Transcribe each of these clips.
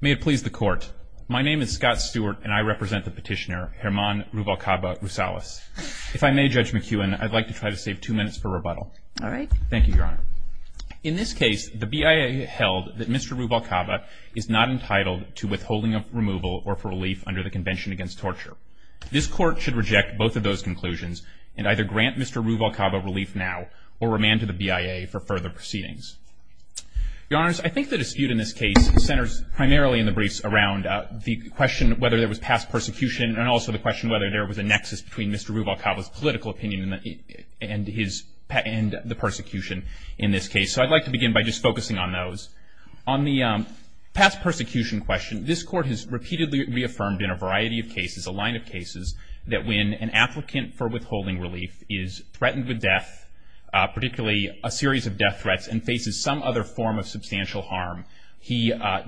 May it please the Court. My name is Scott Stewart and I represent the petitioner Germán Ruvalcaba-Rosales. If I may, Judge McEwen, I'd like to try to save two minutes for rebuttal. All right. Thank you, Your Honor. In this case, the BIA held that Mr. Ruvalcaba is not entitled to withholding of removal or for relief under the Convention Against Torture. This court should reject both of those conclusions and either grant Mr. Ruvalcaba relief now or remand to the Court of Appeals. I'd like to begin by just focusing on those. On the past persecution question, this Court has repeatedly reaffirmed in a variety of cases, a line of cases, that when an applicant for withholding relief is threatened with death, particularly a series of death threats, and faces some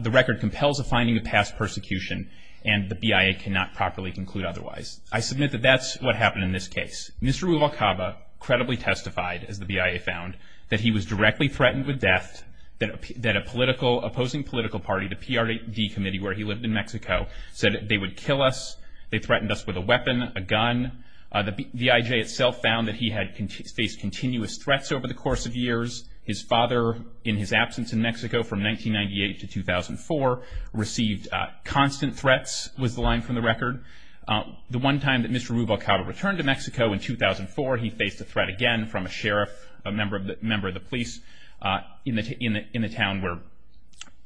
The record compels a finding of past persecution and the BIA cannot properly conclude otherwise. I submit that that's what happened in this case. Mr. Ruvalcaba credibly testified, as the BIA found, that he was directly threatened with death, that a political, opposing political party, the PRD Committee, where he lived in Mexico, said they would kill us, they threatened us with a weapon, a gun. The BIA itself found that he had faced continuous threats over the course of years. His father, in his absence in Mexico from 1998 to 2004, received constant threats, was the line from the record. The one time that Mr. Ruvalcaba returned to Mexico in 2004, he faced a threat again from a sheriff, a member of the police, in the town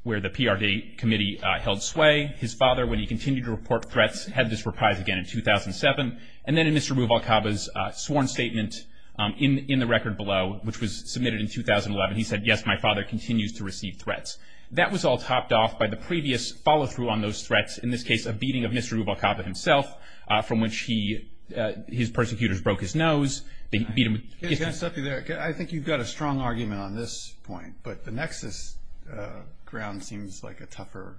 where the PRD Committee held sway. His father, when he continued to report threats, had this reprise again in 2007. And then in Mr. Ruvalcaba's record below, which was submitted in 2011, he said, yes, my father continues to receive threats. That was all topped off by the previous follow through on those threats, in this case, a beating of Mr. Ruvalcaba himself, from which he, his persecutors broke his nose. They beat him. I think you've got a strong argument on this point, but the nexus ground seems like a tougher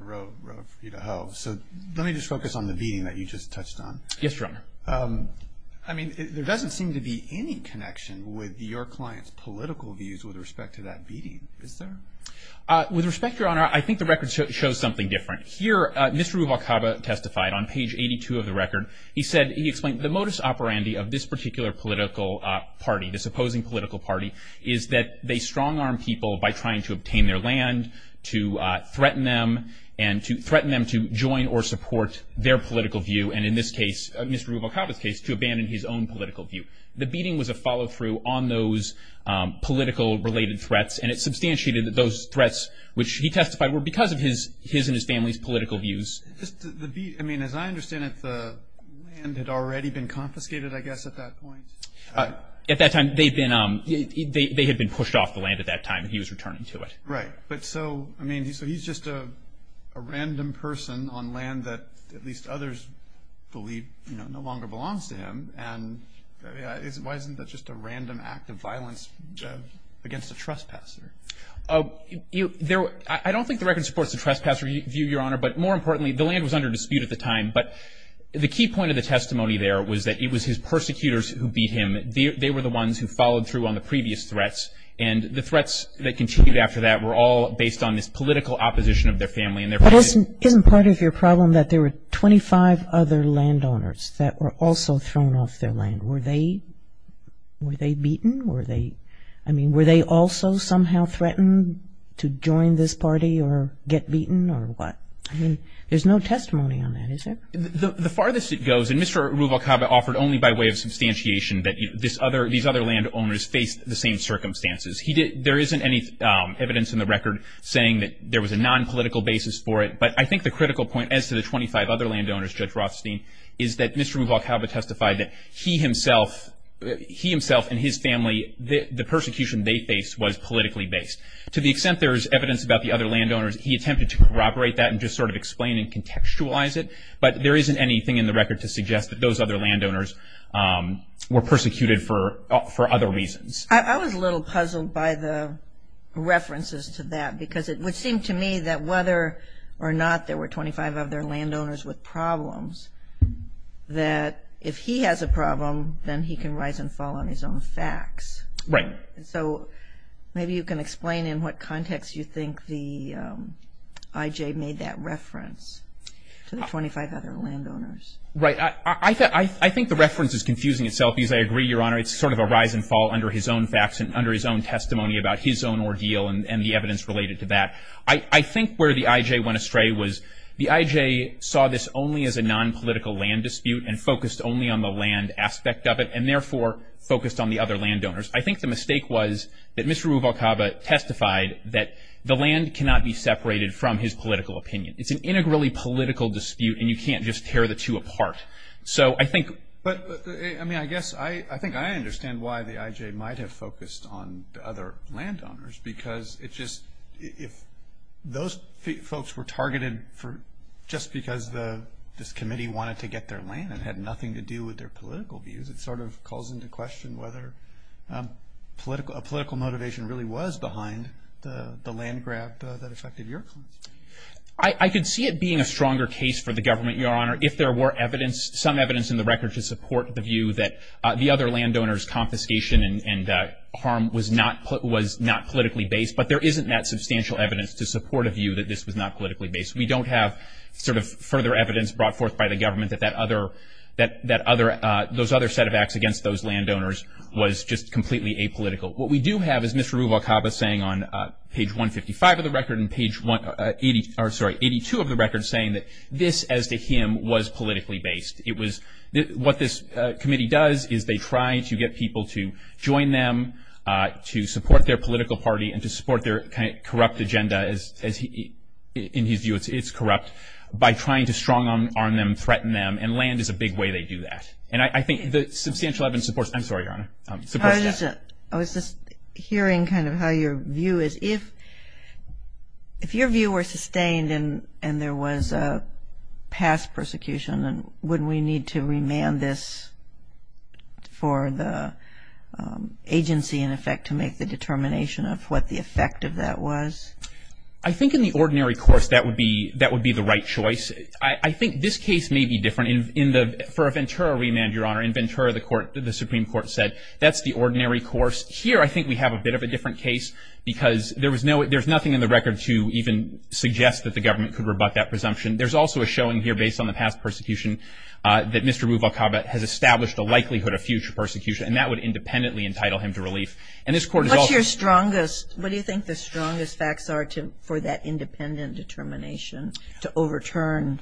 road for you to hoe. So let me just focus on the beating that you just touched on. Yes, Your Honor. I mean, there doesn't seem to be any connection with your client's political views with respect to that beating, is there? With respect, Your Honor, I think the record shows something different. Here, Mr. Ruvalcaba testified on page 82 of the record. He said, he explained, the modus operandi of this particular political party, this opposing political party, is that they strong arm people by trying to obtain their land, to threaten them, and to threaten them to join or support their political view. And in this case, Mr. Ruvalcaba's case, to abandon his own political view. The beating was a follow through on those political related threats, and it substantiated that those threats, which he testified, were because of his and his family's political views. The beat, I mean, as I understand it, the land had already been confiscated, I guess, at that point? At that time, they'd been, they had been pushed off the land at that time, and he was returning to it. Right. But so, I mean, so he's just a random person on land that at least others believe, you know, no longer belongs to him. And why isn't that just a random act of violence against a trespasser? Oh, you, there, I don't think the record supports the trespasser view, Your Honor. But more importantly, the land was under dispute at the time. But the key point of the testimony there was that it was his persecutors who beat him. They were the ones who followed through on the previous threats. And the threats that continued after that were all based on this political opposition of their family. But isn't part of your problem that there were 25 other landowners that were also thrown off their land? Were they, were they beaten? Were they, I mean, were they also somehow threatened to join this party or get beaten or what? I mean, there's no testimony on that, is there? The farthest it goes, and Mr. Ruvalcaba offered only by way of substantiation that this other, these other landowners faced the same circumstances. He did, there isn't any evidence in the record saying that there was a nonpolitical basis for it. But I think the critical point as to the 25 other landowners, Judge Rothstein, is that Mr. Ruvalcaba testified that he himself, he himself and his family, the persecution they faced was politically based. To the extent there's evidence about the other landowners, he attempted to corroborate that and just sort of explain and contextualize it. But there isn't anything in the record to suggest that those other landowners were persecuted for, for other reasons. I was a little puzzled by the references to that, because it would seem to me that whether or not there were 25 other landowners with problems, that if he has a problem, then he can rise and fall on his own facts. Right. So maybe you can explain in what context you think the I.J. made that reference to the 25 other landowners. Right. I think the reference is confusing itself, because I agree, Your Honor, it's sort of a rise and fall under his own facts and under his own testimony about his own ordeal and the evidence related to that. I think where the I.J. went astray was the I.J. saw this only as a nonpolitical land dispute and focused only on the land aspect of it, and therefore focused on the other landowners. I think the mistake was that Mr. Ruvalcaba testified that the land cannot be separated from his political opinion. It's an integrally political dispute, and you can't just tear the two apart. But I mean, I guess I think I understand why the I.J. might have focused on the other landowners, because if those folks were targeted just because this committee wanted to get their land and had nothing to do with their political views, it sort of calls into question whether a political motivation really was behind the land grab that affected your claim. I could see it being a stronger case for the government, Your Honor, if there were some evidence in the record to support the view that the other landowners' confiscation and harm was not politically based. But there isn't that substantial evidence to support a view that this was not politically based. We don't have sort of further evidence brought forth by the government that those other set of acts against those landowners was just completely apolitical. What we do have is Mr. Ruvalcaba saying on page 155 of the record and page 82 of the record saying that this, as to him, was politically based. It was what this committee does is they try to get people to join them to support their political party and to support their kind of corrupt agenda, as in his view it's corrupt, by trying to strong-arm them, threaten them. And land is a big way they do that. And I think the substantial evidence supports, I'm sorry, Your Honor, supports that. I was just hearing kind of how your view is. If your view were sustained and there was a past persecution, then wouldn't we need to remand this for the agency, in effect, to make the determination of what the effect of that was? I think in the ordinary course that would be the right choice. I think this case may be different. For a Ventura remand, Your Honor, in Ventura the Supreme Court said that's the ordinary course. Here, I think we have a bit of a different case because there was no, there's nothing in the record to even suggest that the government could rebut that presumption. There's also a showing here based on the past persecution that Mr. Ruvalcaba has established a likelihood of future persecution, and that would independently entitle him to relief. And this Court is also- What's your strongest, what do you think the strongest facts are for that independent determination to overturn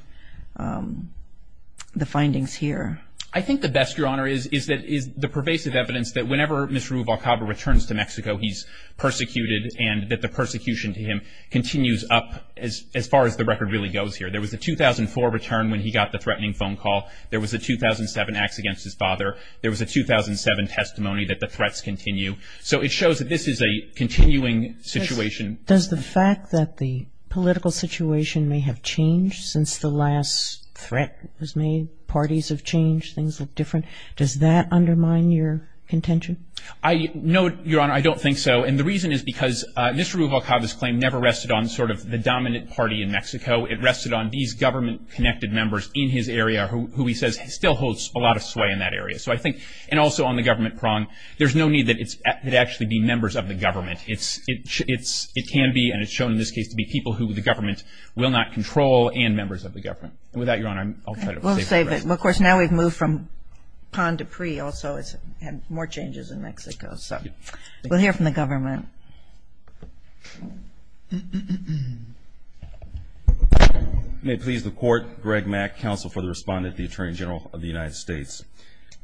the findings here? I think the best, Your Honor, is the pervasive evidence that whenever Mr. Ruvalcaba returns to Mexico, he's persecuted, and that the persecution to him continues up as far as the record really goes here. There was a 2004 return when he got the threatening phone call. There was a 2007 acts against his father. There was a 2007 testimony that the threats continue. So it shows that this is a continuing situation. Does the fact that the political situation may have changed since the last threat was made, parties have changed, things look different, does that undermine your contention? No, Your Honor, I don't think so. And the reason is because Mr. Ruvalcaba's claim never rested on sort of the dominant party in Mexico. It rested on these government-connected members in his area who he says still holds a lot of sway in that area. So I think, and also on the government prong, there's no need that it actually be members of the government. It can be, and it's shown in this case, to be people who the government will not control and members of the government. And with that, Your Honor, I'll try to save the question. Well, of course, now we've moved from PON to PRE also. It's had more changes in Mexico. So we'll hear from the government. May it please the Court, Greg Mack, Counsel for the Respondent, the Attorney General of the United States.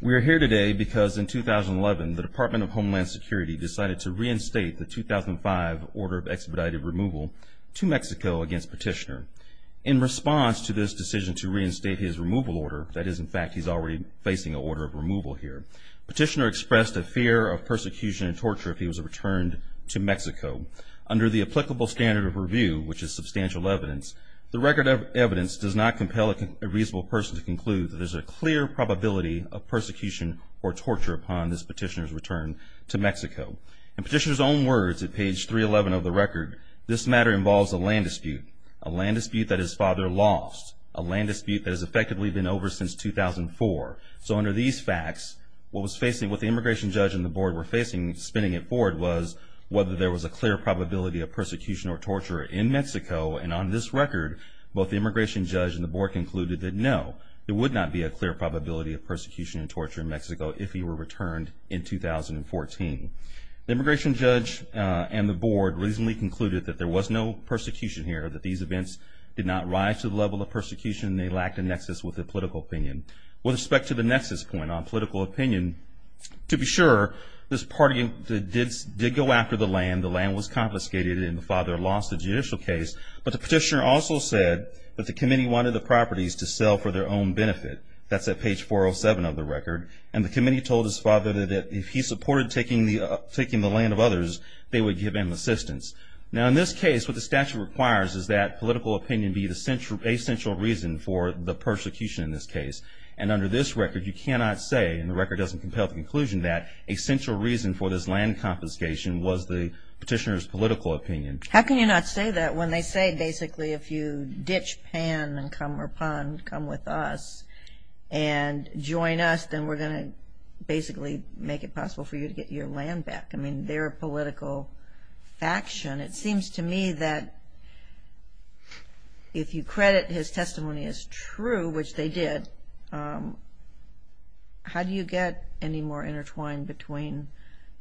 We are here today because in 2011, the Department of Homeland Security decided to reinstate the 2005 order of expedited removal to Mexico against Petitioner. In response to this decision to reinstate his removal order, that is, in fact, he's already facing an order of removal here, Petitioner expressed a fear of persecution and torture if he was returned to Mexico. Under the applicable standard of review, which is substantial evidence, the record of evidence does not compel a reasonable person to conclude that there's a clear probability of persecution or torture upon this petitioner's return to Mexico. In Petitioner's own words at page 311 of the record, this matter involves a land dispute that his father lost, a land dispute that has effectively been over since 2004. So under these facts, what the immigration judge and the board were facing, spinning it forward, was whether there was a clear probability of persecution or torture in Mexico. And on this record, both the immigration judge and the board concluded that no, there would not be a clear probability of persecution and torture in Mexico if he were returned in 2014. The immigration judge and the board recently concluded that there was no persecution here, that these events did not rise to the level of persecution and they lacked a nexus with a political opinion. With respect to the nexus point on political opinion, to be sure, this party did go after the land. The land was confiscated and the father lost the judicial case. But the petitioner also said that the committee wanted the properties to sell for their own benefit. That's at page 407 of the record. And the committee told his father that if he supported taking the land of others, they would give him assistance. Now, in this case, what the statute requires is that political opinion be the essential reason for the persecution in this case. And under this record, you cannot say, and the record doesn't compel the conclusion that, a central reason for this land confiscation was the petitioner's political opinion. How can you not say that when they say, basically, if you ditch PAN and come with us and join us, then we're going to basically make it possible for you to get your own political faction? It seems to me that if you credit his testimony as true, which they did, how do you get any more intertwined between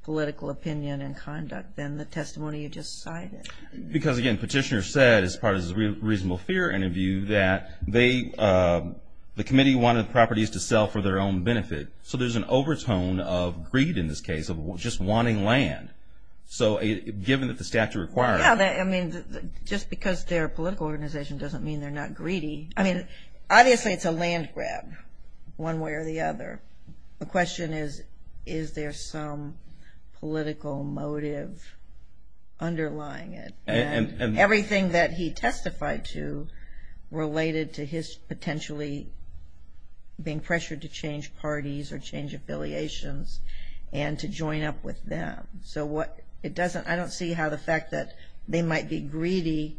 political opinion and conduct than the testimony you just cited? Because again, petitioner said, as part of his reasonable fear interview, that the committee wanted the properties to sell for their own benefit. So there's an overtone of greed in this case, of just wanting land. So given that the statute requires it. Yeah, I mean, just because they're a political organization doesn't mean they're not greedy. I mean, obviously it's a land grab, one way or the other. The question is, is there some political motive underlying it? And everything that he testified to related to his potentially being pressured to change parties or change affiliations and to join up with them. So what it doesn't, I don't see how the fact that they might be greedy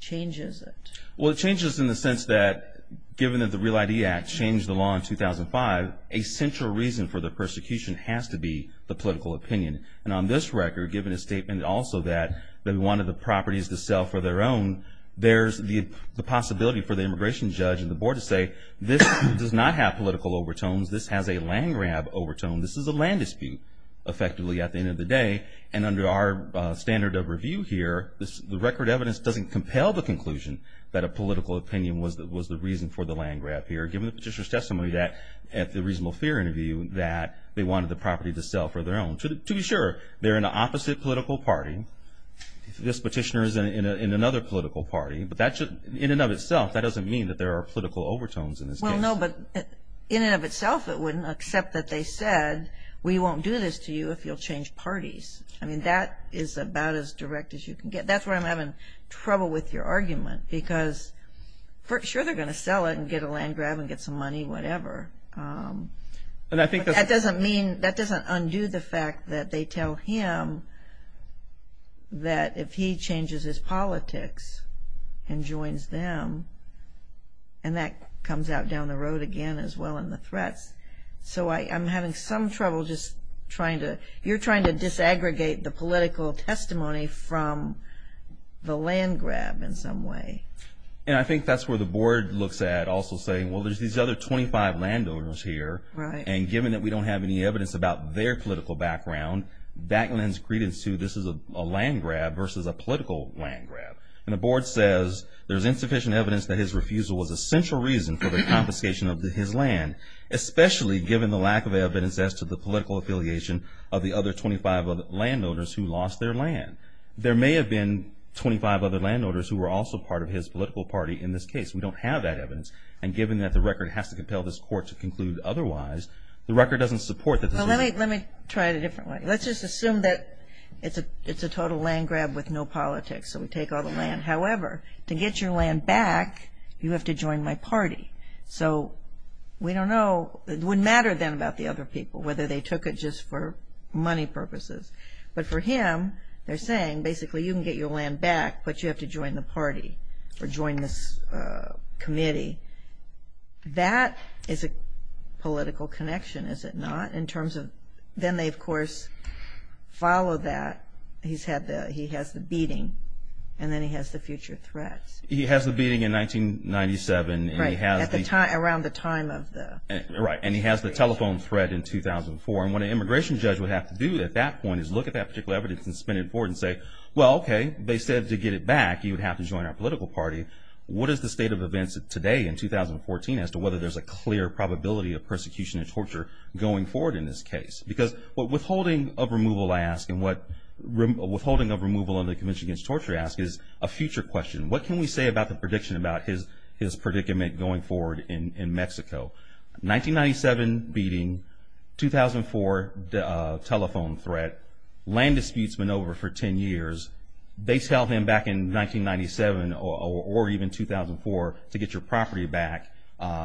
changes it. Well, it changes in the sense that given that the Real ID Act changed the law in 2005, a central reason for the persecution has to be the political opinion. And on this record, given a statement also that they wanted the properties to sell for their own, there's the possibility for the immigration judge and the board to say, this does not have political overtones. This has a land grab overtone. This is a land dispute, effectively, at the end of the day. And under our standard of review here, the record evidence doesn't compel the conclusion that a political opinion was the reason for the land grab here, given the petitioner's testimony that, at the reasonable fear interview, that they wanted the property to sell for their own. To be sure, they're in an opposite political party. This petitioner is in another political party. But that should, in and of itself, that doesn't mean that there are political overtones in this case. No, but in and of itself, it wouldn't, except that they said, we won't do this to you if you'll change parties. I mean, that is about as direct as you can get. That's where I'm having trouble with your argument, because for sure they're going to sell it and get a land grab and get some money, whatever. But that doesn't mean, that doesn't undo the fact that they tell him that if he wrote again, as well in the threats. So I'm having some trouble just trying to, you're trying to disaggregate the political testimony from the land grab in some way. And I think that's where the board looks at also saying, well, there's these other 25 landowners here, and given that we don't have any evidence about their political background, that lends credence to, this is a land grab versus a political land grab. And the board says, there's insufficient evidence that his refusal was a central reason for the confiscation of his land, especially given the lack of evidence as to the political affiliation of the other 25 landowners who lost their land. There may have been 25 other landowners who were also part of his political party in this case. We don't have that evidence. And given that the record has to compel this court to conclude otherwise, the record doesn't support that. Let me try it a different way. Let's just assume that it's a, it's a total land grab with no politics. So we take all the land. However, to get your land back, you have to join my party. So we don't know, it wouldn't matter then about the other people, whether they took it just for money purposes. But for him, they're saying basically you can get your land back, but you have to join the party or join this committee. That is a political connection, is it not, in terms of, then they of course follow that he's had the, he has the beating and then he has the future threats. He has the beating in 1997 and he has the time around the time of the, right. And he has the telephone threat in 2004. And what an immigration judge would have to do at that point is look at that particular evidence and spin it forward and say, well, okay, they said to get it back, you would have to join our political party. What is the state of events today in 2014 as to whether there's a clear probability of persecution and torture going forward in this case? Because what withholding of removal asks and what withholding of removal under the Convention Against Torture asks is a future question. What can we say about the prediction about his predicament going forward in Mexico? 1997 beating, 2004 telephone threat, land disputes been over for 10 years. They tell him back in 1997 or even 2004 to get your property back,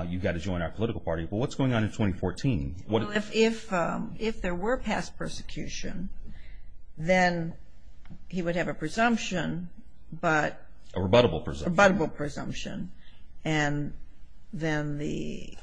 you've got to join our political party. But what's going on in 2014? Well, if there were past persecution, then he would have a presumption, but. A rebuttable presumption. A rebuttable presumption. And then the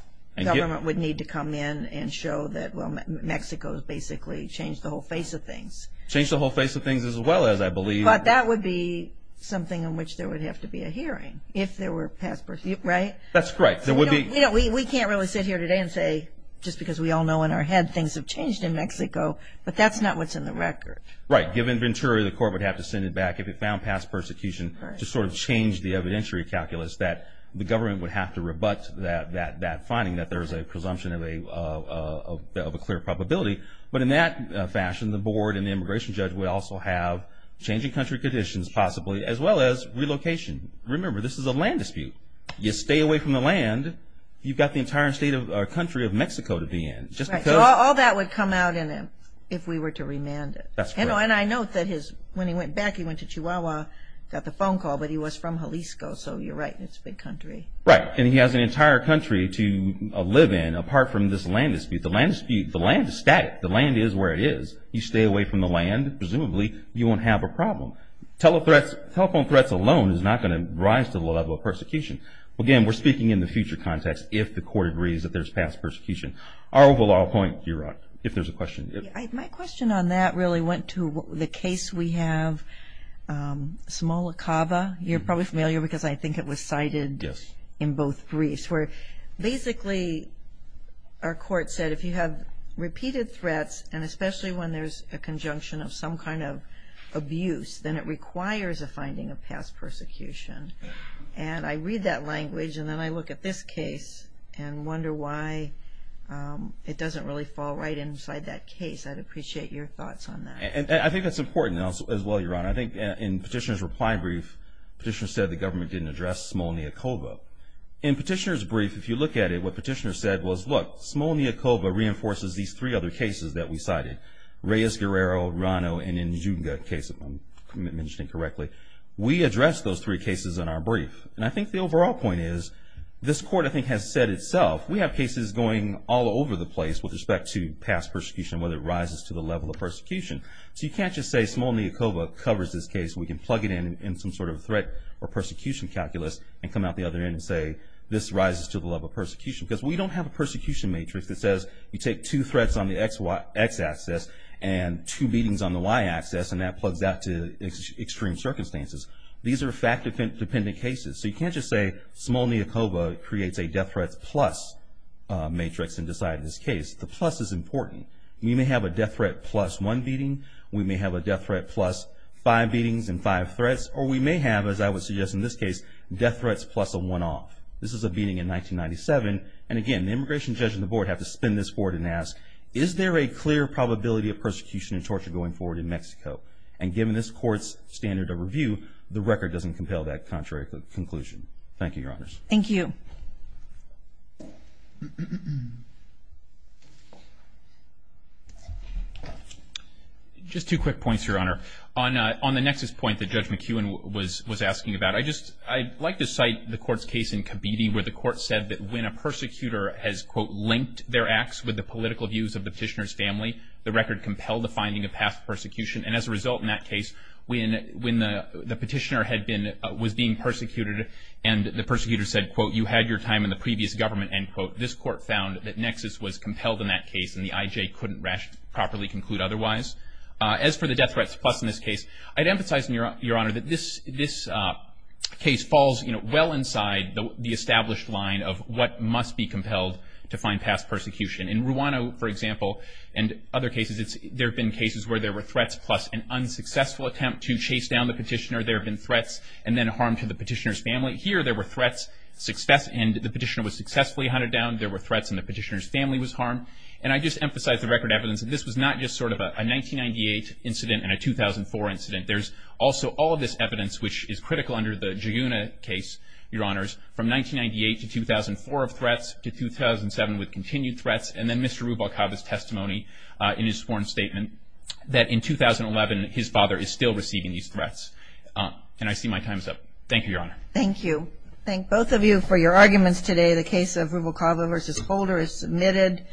government would need to come in and show that, well, Mexico has basically changed the whole face of things. Changed the whole face of things as well as I believe. But that would be something on which there would have to be a hearing if there were past persecution, right? That's correct. There would be. We can't really sit here today and say, just because we all know in our head things have changed in Mexico, but that's not what's in the record. Right. Given Ventura, the court would have to send it back if it found past persecution to sort of change the evidentiary calculus that the government would have to rebut that finding that there is a presumption of a clear probability, but in that fashion, the board and the immigration judge would also have changing country conditions possibly as well as relocation. Remember, this is a land dispute. You stay away from the land, you've got the entire state of our country of Mexico to be in. So all that would come out in him if we were to remand it. And I know that when he went back, he went to Chihuahua, got the phone call, but he was from Jalisco. So you're right, it's a big country. Right. And he has an entire country to live in apart from this land dispute. The land dispute, the land is static. The land is where it is. You stay away from the land, presumably you won't have a problem. Telephone threats alone is not going to rise to the level of Again, we're speaking in the future context if the court agrees that there's past persecution. Our overall point, you're right. If there's a question. My question on that really went to the case we have, Samoa Cava. You're probably familiar because I think it was cited in both briefs where basically our court said if you have repeated threats and especially when there's a conjunction of some kind of abuse, then it requires a finding of past persecution. And I read that language and then I look at this case and wonder why it doesn't really fall right inside that case. I'd appreciate your thoughts on that. And I think that's important as well, Your Honor. I think in Petitioner's reply brief, Petitioner said the government didn't address Samoa Cava. In Petitioner's brief, if you look at it, what Petitioner said was, look, Samoa Cava reinforces these three other cases that we cited. Reyes-Guerrero, Rano, and Njunga case, if I'm mentioning correctly. We addressed those three cases in our brief. And I think the overall point is, this court I think has said itself, we have cases going all over the place with respect to past persecution, whether it rises to the level of persecution. So you can't just say Samoa Cava covers this case. We can plug it in, in some sort of threat or persecution calculus and come out the other end and say, this rises to the level of persecution because we don't have a persecution matrix that says you take two threats on the X-axis and two beatings on the Y-axis and that plugs out to extreme circumstances. These are fact-dependent cases. So you can't just say small Neocoba creates a death threats plus matrix and decided this case. The plus is important. We may have a death threat plus one beating. We may have a death threat plus five beatings and five threats. Or we may have, as I would suggest in this case, death threats plus a one-off. This is a beating in 1997. And again, the immigration judge and the board have to spin this forward and ask, is there a clear probability of persecution and torture going forward in Mexico? And given this court's standard of review, the record doesn't compel that contrary conclusion. Thank you, Your Honors. Thank you. Just two quick points, Your Honor. On the nexus point that Judge McEwen was asking about, I'd like to cite the court's case in Kabidi where the court said that when a persecutor has, quote, linked their acts with the political views of the petitioner's family, the record compelled the finding of past persecution. And as a result in that case, when the petitioner was being persecuted and the persecutor said, quote, you had your time in the previous government, end quote, this court found that nexus was compelled in that case and the IJ couldn't properly conclude otherwise. As for the death threats plus in this case, I'd emphasize, Your Honor, that this case falls, you know, well inside the established line of what must be compelled to find past persecution. In Rwanda, for example, and other cases, there have been cases where there were threats plus an unsuccessful attempt to chase down the petitioner. There have been threats and then harm to the petitioner's family. Here there were threats and the petitioner was successfully hunted down. There were threats and the petitioner's family was harmed. And I just emphasize the record evidence that this was not just sort of a 1998 incident and a 2004 incident. There's also all of this evidence, which is critical under the Giugna case, Your Honor, in 2007 with continued threats. And then Mr. Rubalcava's testimony in his sworn statement that in 2011, his father is still receiving these threats. And I see my time's up. Thank you, Your Honor. Thank you. Thank both of you for your arguments today. The case of Rubalcava versus Holder is submitted.